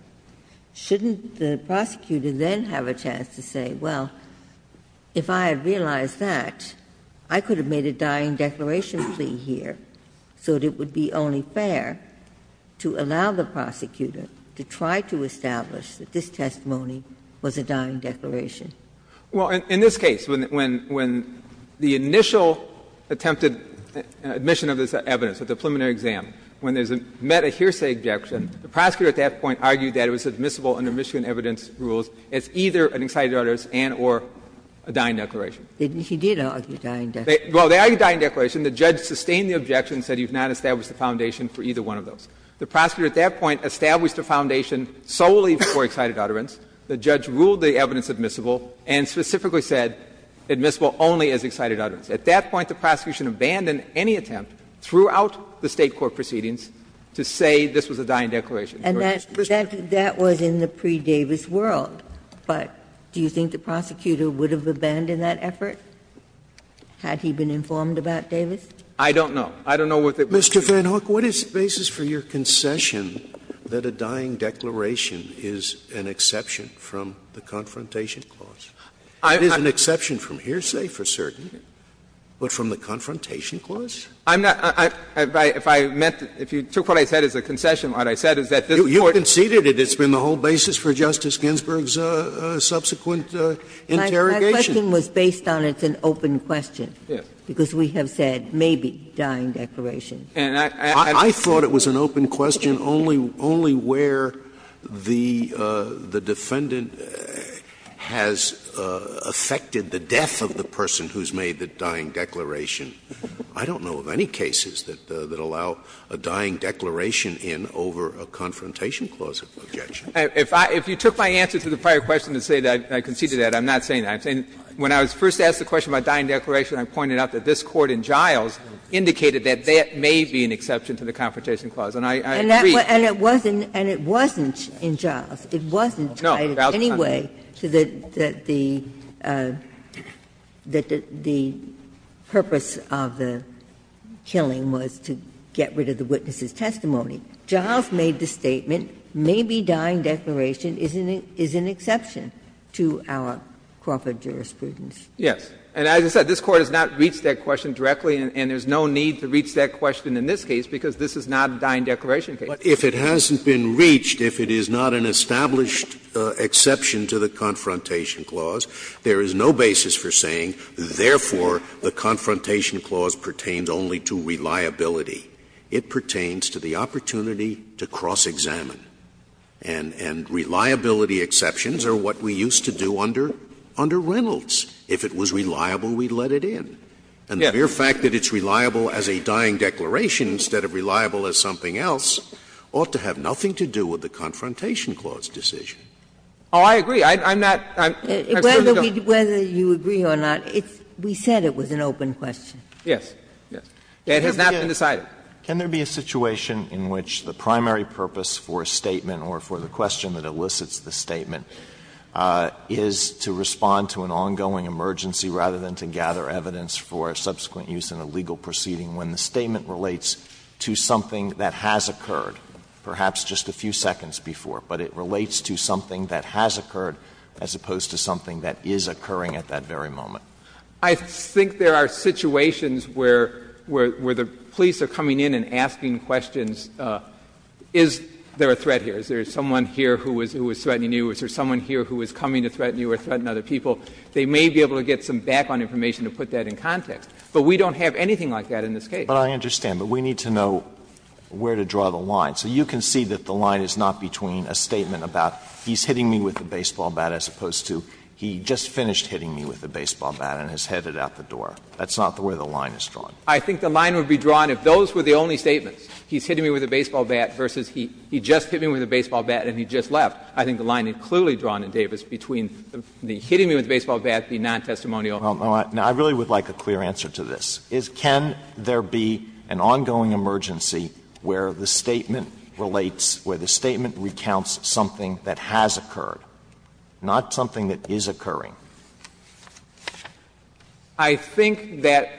Shouldn't the prosecutor then have a chance to say, well, if I had realized that, I could have made a dying declaration plea here so that it would be only fair to allow the prosecutor to try to establish that this testimony was a dying declaration? Well, in this case, when the initial attempted admission of this evidence at the preliminary exam, when there's a met a hearsay objection, the prosecutor at that point argued that it was admissible under Michigan evidence rules as either an excited utterance and or a dying declaration. He did argue a dying declaration. Well, they argued a dying declaration. The judge sustained the objection and said you've not established the foundation for either one of those. The prosecutor at that point established a foundation solely for excited utterance. The judge ruled the evidence admissible and specifically said admissible only as excited utterance. At that point, the prosecution abandoned any attempt throughout the State court proceedings to say this was a dying declaration. And that was in the pre-Davis world, but do you think the prosecutor would have abandoned that effort had he been informed about Davis? I don't know. I don't know what the reason was. Mr. Van Hoek, what is the basis for your concession that a dying declaration is an exception from the Confrontation Clause? It is an exception from hearsay for certain, but from the Confrontation Clause? I'm not — if I meant — if you took what I said as a concession, what I said is that this Court — You conceded it. It's been the whole basis for Justice Ginsburg's subsequent interrogation. My question was based on it's an open question, because we have said maybe dying declaration. I thought it was an open question only where the defendant has affected the death of the person who has made the dying declaration. I don't know of any cases that allow a dying declaration in over a Confrontation Clause objection. If you took my answer to the prior question to say that I conceded that, I'm not saying that. I'm saying when I was first asked the question about dying declaration, I pointed out that this Court in Giles indicated that that may be an exception to the Confrontation Clause. And I agree. And it wasn't in Giles. It wasn't in any way that the purpose of the killing was to get rid of the witness's testimony. Giles made the statement, maybe dying declaration is an exception to our corporate jurisprudence. Yes. And as I said, this Court has not reached that question directly, and there's no need to reach that question in this case, because this is not a dying declaration case. Scalia, if it hasn't been reached, if it is not an established exception to the Confrontation Clause, there is no basis for saying, therefore, the Confrontation Clause pertains only to reliability. It pertains to the opportunity to cross-examine. And reliability exceptions are what we used to do under Reynolds. If it was reliable, we'd let it in. And the mere fact that it's reliable as a dying declaration instead of reliable as something else ought to have nothing to do with the Confrontation Clause decision. Oh, I agree. I'm not going to go. Whether you agree or not, we said it was an open question. Yes. It has not been decided. Can there be a situation in which the primary purpose for a statement or for the question that elicits the statement is to respond to an ongoing emergency rather than to gather evidence for subsequent use in a legal proceeding when the statement relates to something that has occurred, perhaps just a few seconds before, but it relates to something that has occurred as opposed to something that is occurring at that very moment? I think there are situations where the police are coming in and asking questions, is there a threat here? Is there someone here who is threatening you? Is there someone here who is coming to threaten you or threaten other people? They may be able to get some background information to put that in context. But we don't have anything like that in this case. But I understand. But we need to know where to draw the line. So you can see that the line is not between a statement about he's hitting me with a baseball bat as opposed to he just finished hitting me with a baseball bat and has headed out the door. That's not the way the line is drawn. I think the line would be drawn if those were the only statements, he's hitting me with a baseball bat versus he just hit me with a baseball bat and he just left. I think the line is clearly drawn in Davis between the hitting me with a baseball bat being non-testimonial. Alito, I really would like a clear answer to this. Can there be an ongoing emergency where the statement relates, where the statement recounts something that has occurred, not something that is occurring? Alleging that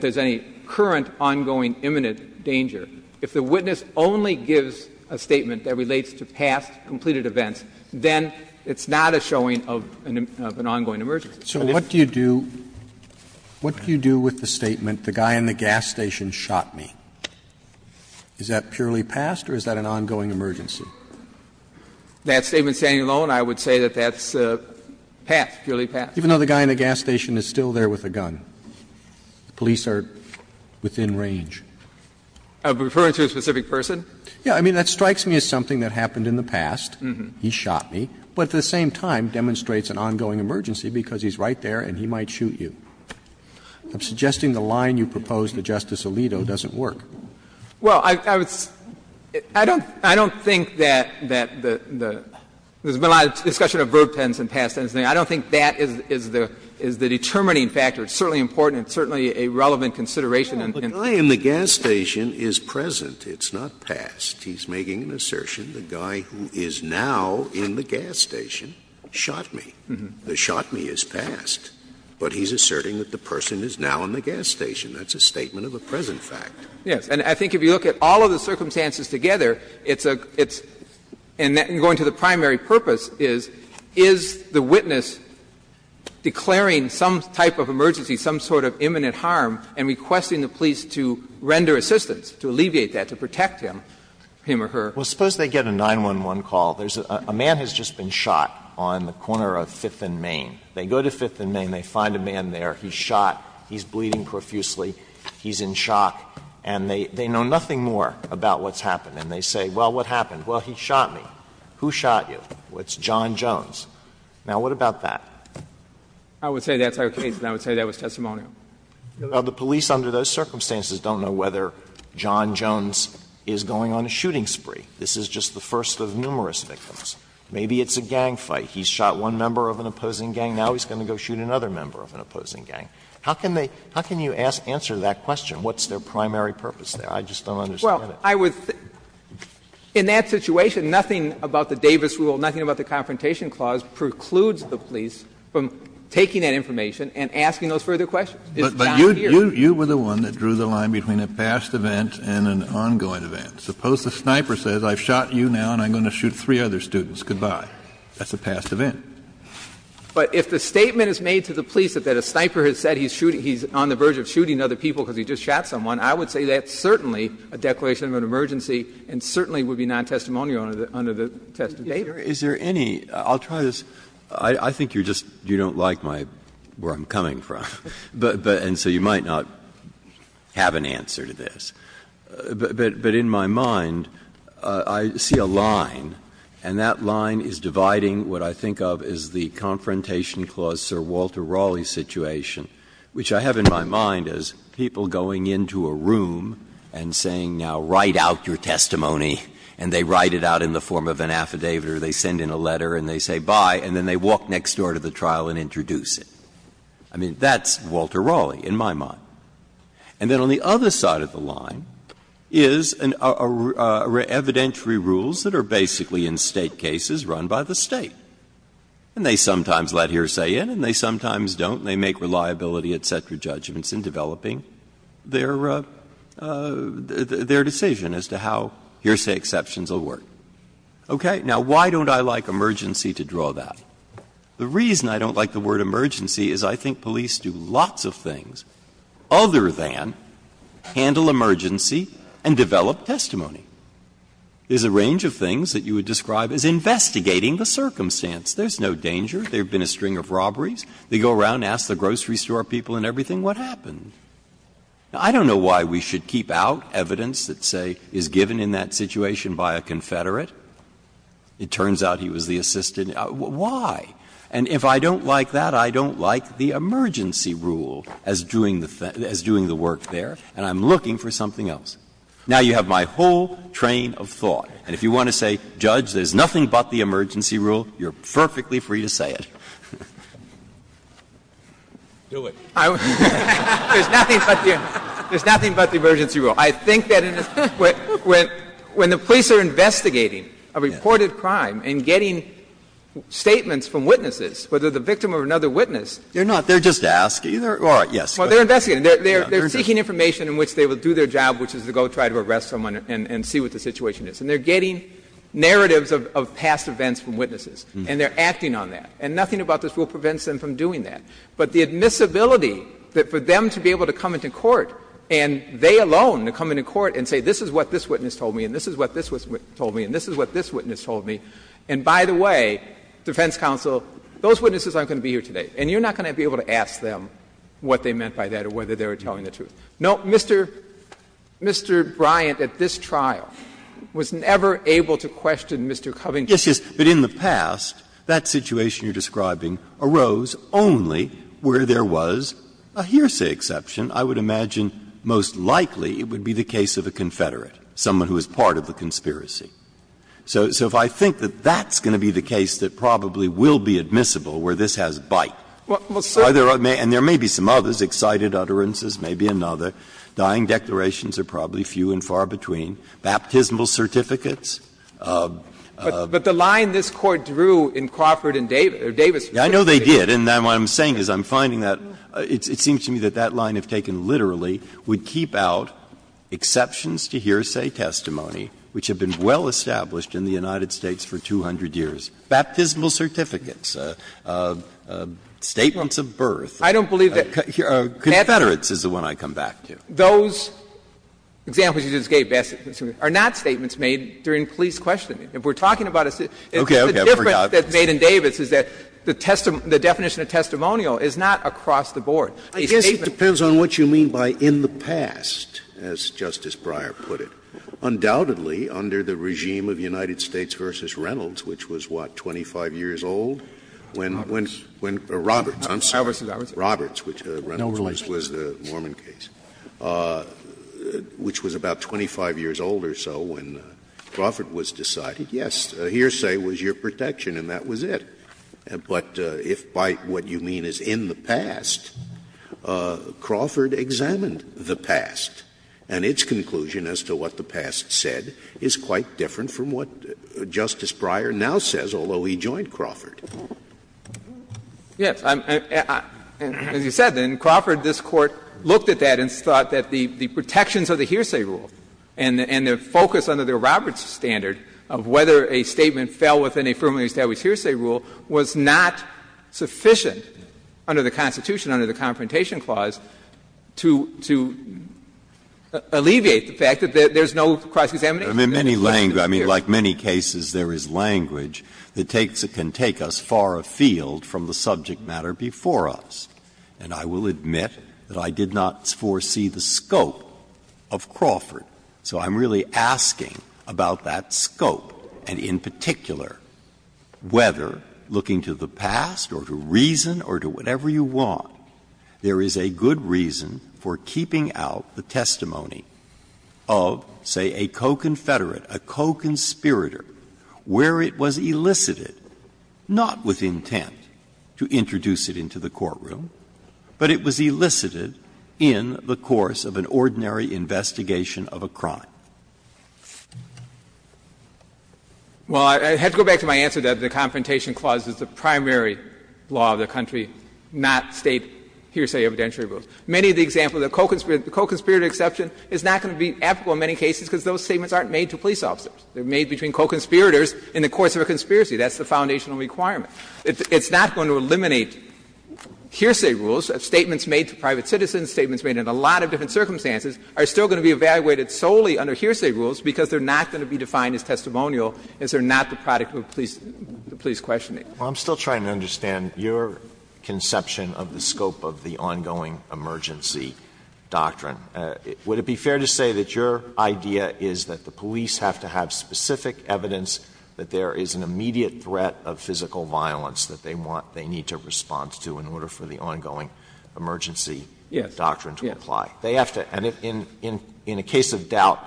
there's any current, ongoing, imminent danger, if the witness only gives a statement that relates to past, completed events, then it's not a showing of an ongoing emergency. Roberts. Roberts. So what do you do with the statement, the guy in the gas station shot me? Is that purely past or is that an ongoing emergency? That statement standing alone, I would say that that's passed, purely passed. Even though the guy in the gas station is still there with a gun. The police are within range. Referring to a specific person? Yes. I mean, that strikes me as something that happened in the past, he shot me, but at the same time demonstrates an ongoing emergency because he's right there and he might shoot you. I'm suggesting the line you proposed to Justice Alito doesn't work. Well, I would say, I don't think that there's been a lot of discussion of verb tense and past tense. I don't think that is the determining factor. It's certainly important and certainly a relevant consideration. But the guy in the gas station is present, it's not past. He's making an assertion, the guy who is now in the gas station shot me. The shot me is past, but he's asserting that the person is now in the gas station. That's a statement of a present fact. Yes. And I think if you look at all of the circumstances together, it's a ‑‑ and going to the primary purpose is, is the witness declaring some type of emergency, some sort of imminent harm, and requesting the police to render assistance, to alleviate that, to protect him, him or her? Well, suppose they get a 911 call. There's a man who's just been shot on the corner of Fifth and Main. They go to Fifth and Main, they find a man there, he's shot, he's bleeding profusely, he's in shock, and they know nothing more about what's happened. And they say, well, what happened? Well, he shot me. Who shot you? Well, it's John Jones. Now, what about that? I would say that's our case, and I would say that was testimonial. Well, the police under those circumstances don't know whether John Jones is going on a shooting spree. This is just the first of numerous victims. Maybe it's a gang fight. He's shot one member of an opposing gang. Now he's going to go shoot another member of an opposing gang. How can they ‑‑ how can you answer that question? What's their primary purpose there? I just don't understand it. Well, I would ‑‑ in that situation, nothing about the Davis rule, nothing about the Confrontation Clause precludes the police from taking that information and asking those further questions. It's down here. But you were the one that drew the line between a past event and an ongoing event. Suppose the sniper says, I've shot you now, and I'm going to shoot three other students, goodbye. That's a past event. But if the statement is made to the police that a sniper has said he's on the verge of shooting other people because he just shot someone, I would say that's certainly a declaration of an emergency and certainly would be nontestimonial under the test of Davis. Breyer, is there any ‑‑ I'll try this. I think you're just ‑‑ you don't like my ‑‑ where I'm coming from, but ‑‑ and so you might not have an answer to this. But in my mind, I see a line, and that line is dividing what I think of as the Confrontation Clause, Sir Walter Raleigh situation, which I have in my mind as people going into a room and saying, now, write out your testimony, and they write it out in the form of an affidavit or they send in a letter and they say bye, and then they walk next door to the trial and introduce it. I mean, that's Walter Raleigh in my mind. And then on the other side of the line is evidentiary rules that are basically in State cases run by the State. And they sometimes let hearsay in and they sometimes don't, and they make reliability, etc., judgments in developing their decision as to how hearsay exceptions will work. Okay? Now, why don't I like emergency to draw that? The reason I don't like the word emergency is I think police do lots of things other than handle emergency and develop testimony. There's a range of things that you would describe as investigating the circumstance. There's no danger. There have been a string of robberies. They go around and ask the grocery store people and everything, what happened? Now, I don't know why we should keep out evidence that, say, is given in that situation by a confederate. It turns out he was the assistant. Why? And if I don't like that, I don't like the emergency rule as doing the work there, and I'm looking for something else. Now, you have my whole train of thought, and if you want to say, Judge, there's nothing but the emergency rule, you're perfectly free to say it. Do it. There's nothing but the emergency rule. I think that when the police are investigating a reported crime and getting statements from witnesses, whether the victim or another witness. They're not. They're just asking. All right. Yes. Well, they're investigating. They're seeking information in which they will do their job, which is to go try to arrest someone and see what the situation is. And they're getting narratives of past events from witnesses, and they're acting on that. And nothing about this rule prevents them from doing that. But the admissibility that for them to be able to come into court, and they alone to come into court and say, this is what this witness told me, and this is what this witness told me, and this is what this witness told me, and by the way, defense counsel, those witnesses aren't going to be here today, and you're not going to be able to ask them what they meant by that or whether they were telling the truth. No, Mr. Bryant at this trial was never able to question Mr. Covington. Breyer. Yes, yes. But in the past, that situation you're describing arose only where there was a hearsay exception. I would imagine most likely it would be the case of a Confederate, someone who was part of the conspiracy. So if I think that that's going to be the case that probably will be admissible where this has bite, and there may be some others, excited utterances, maybe another. Dying declarations are probably few and far between. Baptismal certificates. But the line this Court drew in Crawford and Davis. I know they did. And what I'm saying is I'm finding that it seems to me that that line, if taken literally, would keep out exceptions to hearsay testimony which have been well established in the United States for 200 years. Baptismal certificates, statements of birth. I don't believe that. Confederates is the one I come back to. Those examples you just gave, Baptismal certificates, are not statements made during police questioning. If we're talking about a citizen. Okay, okay. I forgot. The difference that's made in Davis is that the definition of testimonial is not across the board. A statement. I guess it depends on what you mean by in the past, as Justice Breyer put it. Undoubtedly, under the regime of United States v. Reynolds, which was, what, 25 years old? Roberts. Roberts, I'm sorry. Roberts v. Roberts. Roberts, which Reynolds was the Mormon case. Which was about 25 years old or so when Crawford was decided, yes, hearsay was your protection and that was it. But if by what you mean is in the past, Crawford examined the past, and its conclusion as to what the past said is quite different from what Justice Breyer now says, although he joined Crawford. Yes. As you said, in Crawford, this Court looked at that and thought that the protections of the hearsay rule and the focus under the Roberts standard of whether a statement fell within a firmly established hearsay rule was not sufficient under the Constitution, under the Confrontation Clause, to alleviate the fact that there's no cross-examination. Breyer, I mean, like many cases, there is language that can take us far afield from the subject matter before us. And I will admit that I did not foresee the scope of Crawford. So I'm really asking about that scope and, in particular, whether, looking to the past or to reason or to whatever you want, there is a good reason for keeping out the testimony of, say, a co-Confederate, a co-conspirator, where it was elicited, not with intent to introduce it into the courtroom, but it was elicited in the course of an ordinary investigation of a crime. Well, I have to go back to my answer that the Confrontation Clause is the primary law of the country, not State hearsay evidentiary rules. Many of the examples of co-conspirator exceptions is not going to be applicable in many cases because those statements aren't made to police officers. They're made between co-conspirators in the course of a conspiracy. That's the foundational requirement. It's not going to eliminate hearsay rules. Statements made to private citizens, statements made in a lot of different circumstances are still going to be evaluated solely under hearsay rules because they're not going to be defined as testimonial, as they're not the product of a police questioning. Alito, I'm still trying to understand your conception of the scope of the ongoing emergency doctrine. Would it be fair to say that your idea is that the police have to have specific evidence that there is an immediate threat of physical violence that they want, they need to respond to in order for the ongoing emergency doctrine to apply? And in a case of doubt,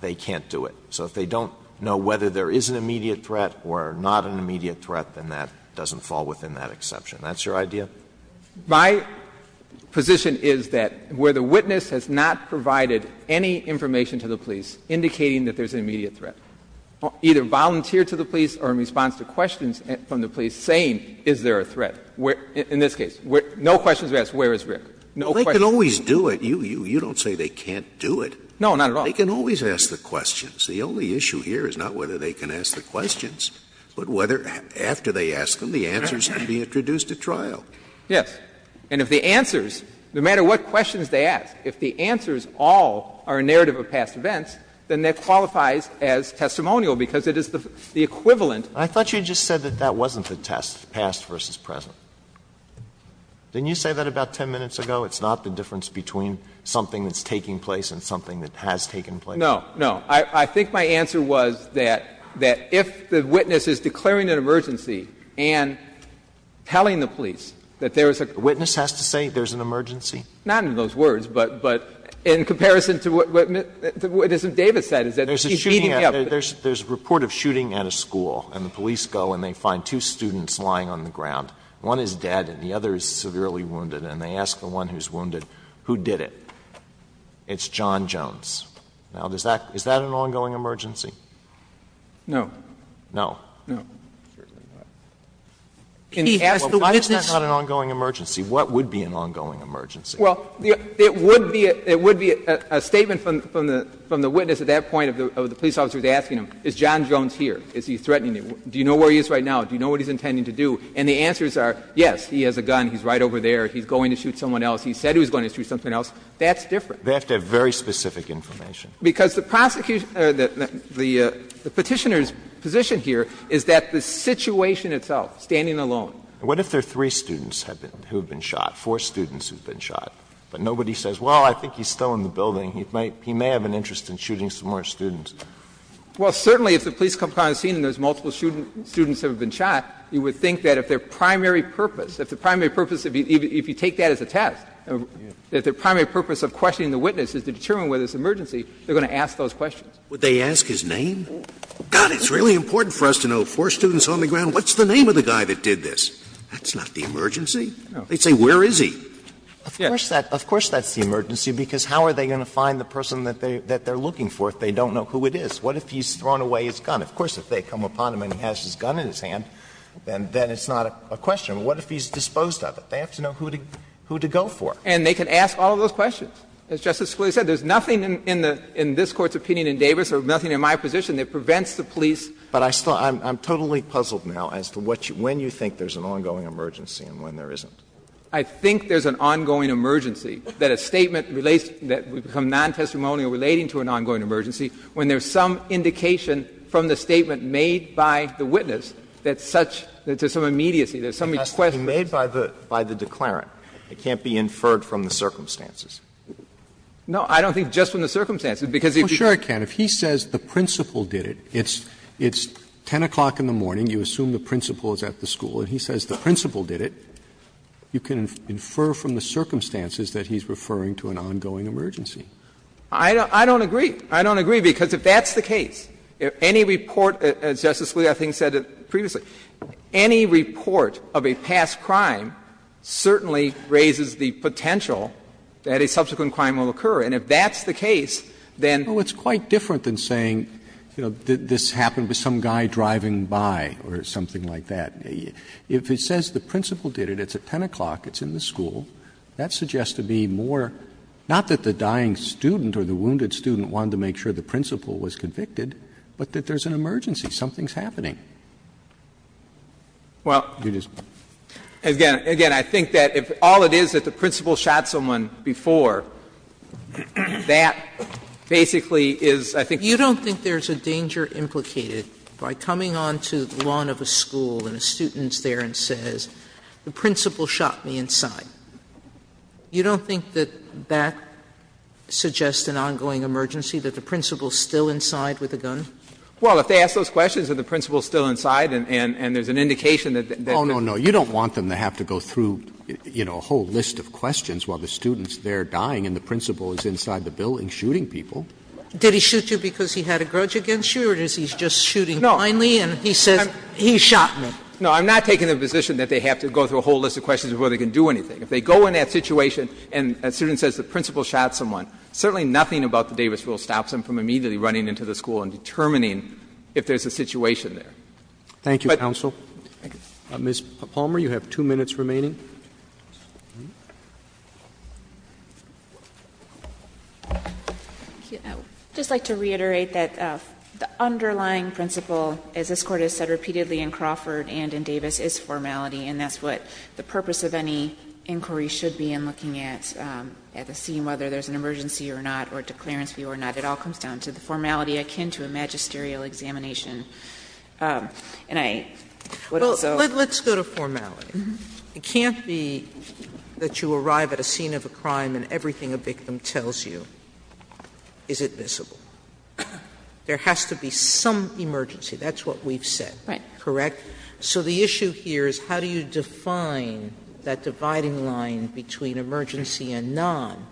they can't do it. So if they don't know whether there is an immediate threat or not an immediate threat, then that doesn't fall within that exception. That's your idea? My position is that where the witness has not provided any information to the police indicating that there's an immediate threat, either volunteered to the police or in response to questions from the police saying, is there a threat, in this case, no questions were asked, where is Rick? No questions. Scalia, you don't say they can't do it. No, not at all. They can always ask the questions. The only issue here is not whether they can ask the questions, but whether, after they ask them, the answers can be introduced at trial. Yes. And if the answers, no matter what questions they ask, if the answers all are a narrative of past events, then that qualifies as testimonial, because it is the equivalent. I thought you just said that that wasn't the test, past versus present. Didn't you say that about 10 minutes ago? It's not the difference between something that's taking place and something that has taken place? No, no. I think my answer was that if the witness is declaring an emergency and telling the police that there is a crime. A witness has to say there's an emergency? Not in those words, but in comparison to what Mr. Davis said, is that he's beating me up. There's a report of shooting at a school, and the police go and they find two students lying on the ground. One is dead and the other is severely wounded, and they ask the one who's wounded, who did it? It's John Jones. Now, is that an ongoing emergency? No. No? No. Well, if that's not an ongoing emergency, what would be an ongoing emergency? Well, it would be a statement from the witness at that point of the police officer who's asking him, is John Jones here? Is he threatening me? Do you know where he is right now? Do you know what he's intending to do? And the answers are, yes, he has a gun, he's right over there, he's going to shoot someone else, he said he was going to shoot someone else. That's different. They have to have very specific information. Because the prosecution or the Petitioner's position here is that the situation itself, standing alone. What if there are three students who have been shot, four students who have been shot, but nobody says, well, I think he's still in the building, he may have an interest in shooting some more students? Well, certainly if the police come upon the scene and there's multiple students who have been shot, you would think that if their primary purpose, if the primary purpose of questioning the witness is to determine whether it's an emergency, they're going to ask those questions. Scalia. Would they ask his name? God, it's really important for us to know, four students on the ground, what's the name of the guy that did this? That's not the emergency. They'd say, where is he? Of course that's the emergency, because how are they going to find the person that they're looking for if they don't know who it is? What if he's thrown away his gun? Of course, if they come upon him and he has his gun in his hand, then it's not a question. What if he's disposed of it? They have to know who to go for. And they can ask all of those questions. As Justice Scalia said, there's nothing in the — in this Court's opinion in Davis or nothing in my position that prevents the police. But I still — I'm totally puzzled now as to what you — when you think there's an ongoing emergency and when there isn't. I think there's an ongoing emergency, that a statement relates — that would become non-testimonial relating to an ongoing emergency when there's some indication from the statement made by the witness that such — that there's some immediacy, there's some question. It has to be made by the — by the declarant. It can't be inferred from the circumstances. No, I don't think just from the circumstances, because if you can't. Roberts, if he says the principal did it, it's 10 o'clock in the morning, you assume the principal is at the school, and he says the principal did it, you can infer from the circumstances that he's referring to an ongoing emergency. I don't agree. I don't agree, because if that's the case, if any report, as Justice Scalia, I think, said previously, any report of a past crime certainly raises the potential that a subsequent crime will occur, and if that's the case, then — Roberts, it's quite different than saying, you know, this happened with some guy driving by or something like that. If he says the principal did it, it's at 10 o'clock, it's in the school, that suggests to be more — not that the dying student or the wounded student wanted to make sure the principal was convicted, but that there's an emergency, something's happening. Well, again, I think that if all it is that the principal shot someone before, that basically is, I think — Sotomayor, you don't think there's a danger implicated by coming on to the lawn of a school and a student's there and says, the principal shot me inside. You don't think that that suggests an ongoing emergency, that the principal's still inside with a gun? Well, if they ask those questions, are the principal still inside, and there's an indication that — Oh, no, no. You don't want them to have to go through, you know, a whole list of questions while the student's there dying and the principal is inside the building shooting people. Did he shoot you because he had a grudge against you, or is he just shooting kindly and he says he shot me? No, I'm not taking the position that they have to go through a whole list of questions before they can do anything. If they go in that situation and a student says the principal shot someone, certainly nothing about the Davis rule stops them from immediately running into the school and determining if there's a situation there. Thank you, counsel. Ms. Palmer, you have two minutes remaining. I would just like to reiterate that the underlying principle, as this Court has said repeatedly in Crawford and in Davis, is formality, and that's what the purpose of any inquiry should be in looking at the scene, whether there's an emergency or not or a declarance view or not. It all comes down to the formality akin to a magisterial examination. And I would also say that there's a formality in the case of the Davis case. Sotomayor, let's go to formality. It can't be that you arrive at a scene of a crime and everything a victim tells you is admissible. There has to be some emergency. That's what we've said. Right. Correct? So the issue here is how do you define that dividing line between emergency and non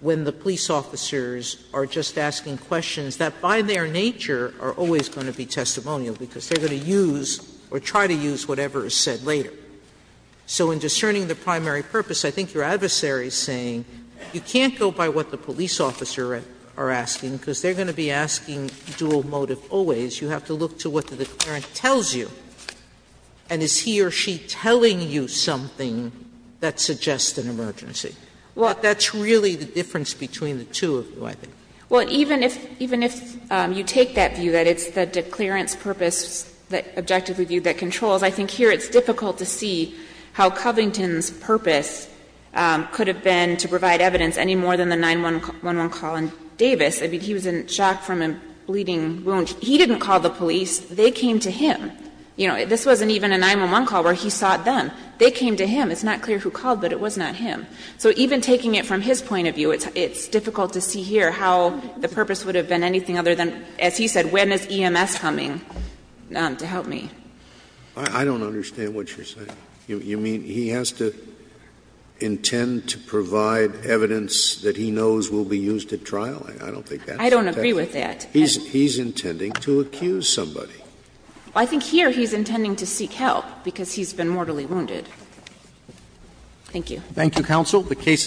when the police officers are just asking questions that by their nature are always going to be testimonial because they're going to use or try to use whatever is said later. So in discerning the primary purpose, I think your adversary is saying you can't go by what the police officer are asking because they're going to be asking dual motive always. You have to look to what the declarant tells you. And is he or she telling you something that suggests an emergency? Well, that's really the difference between the two of you, I think. Well, even if you take that view, that it's the declarant's purpose, the objective review that controls, I think here it's difficult to see how Covington's purpose could have been to provide evidence any more than the 911 call in Davis. I mean, he was in shock from a bleeding wound. He didn't call the police. They came to him. You know, this wasn't even a 911 call where he sought them. They came to him. It's not clear who called, but it was not him. So even taking it from his point of view, it's difficult to see here how the purpose would have been anything other than, as he said, when is EMS coming to help me. I don't understand what you're saying. You mean he has to intend to provide evidence that he knows will be used at trial? I don't think that's the case. I don't agree with that. He's intending to accuse somebody. I think here he's intending to seek help because he's been mortally wounded. Thank you. Thank you, Counsel. The case is submitted.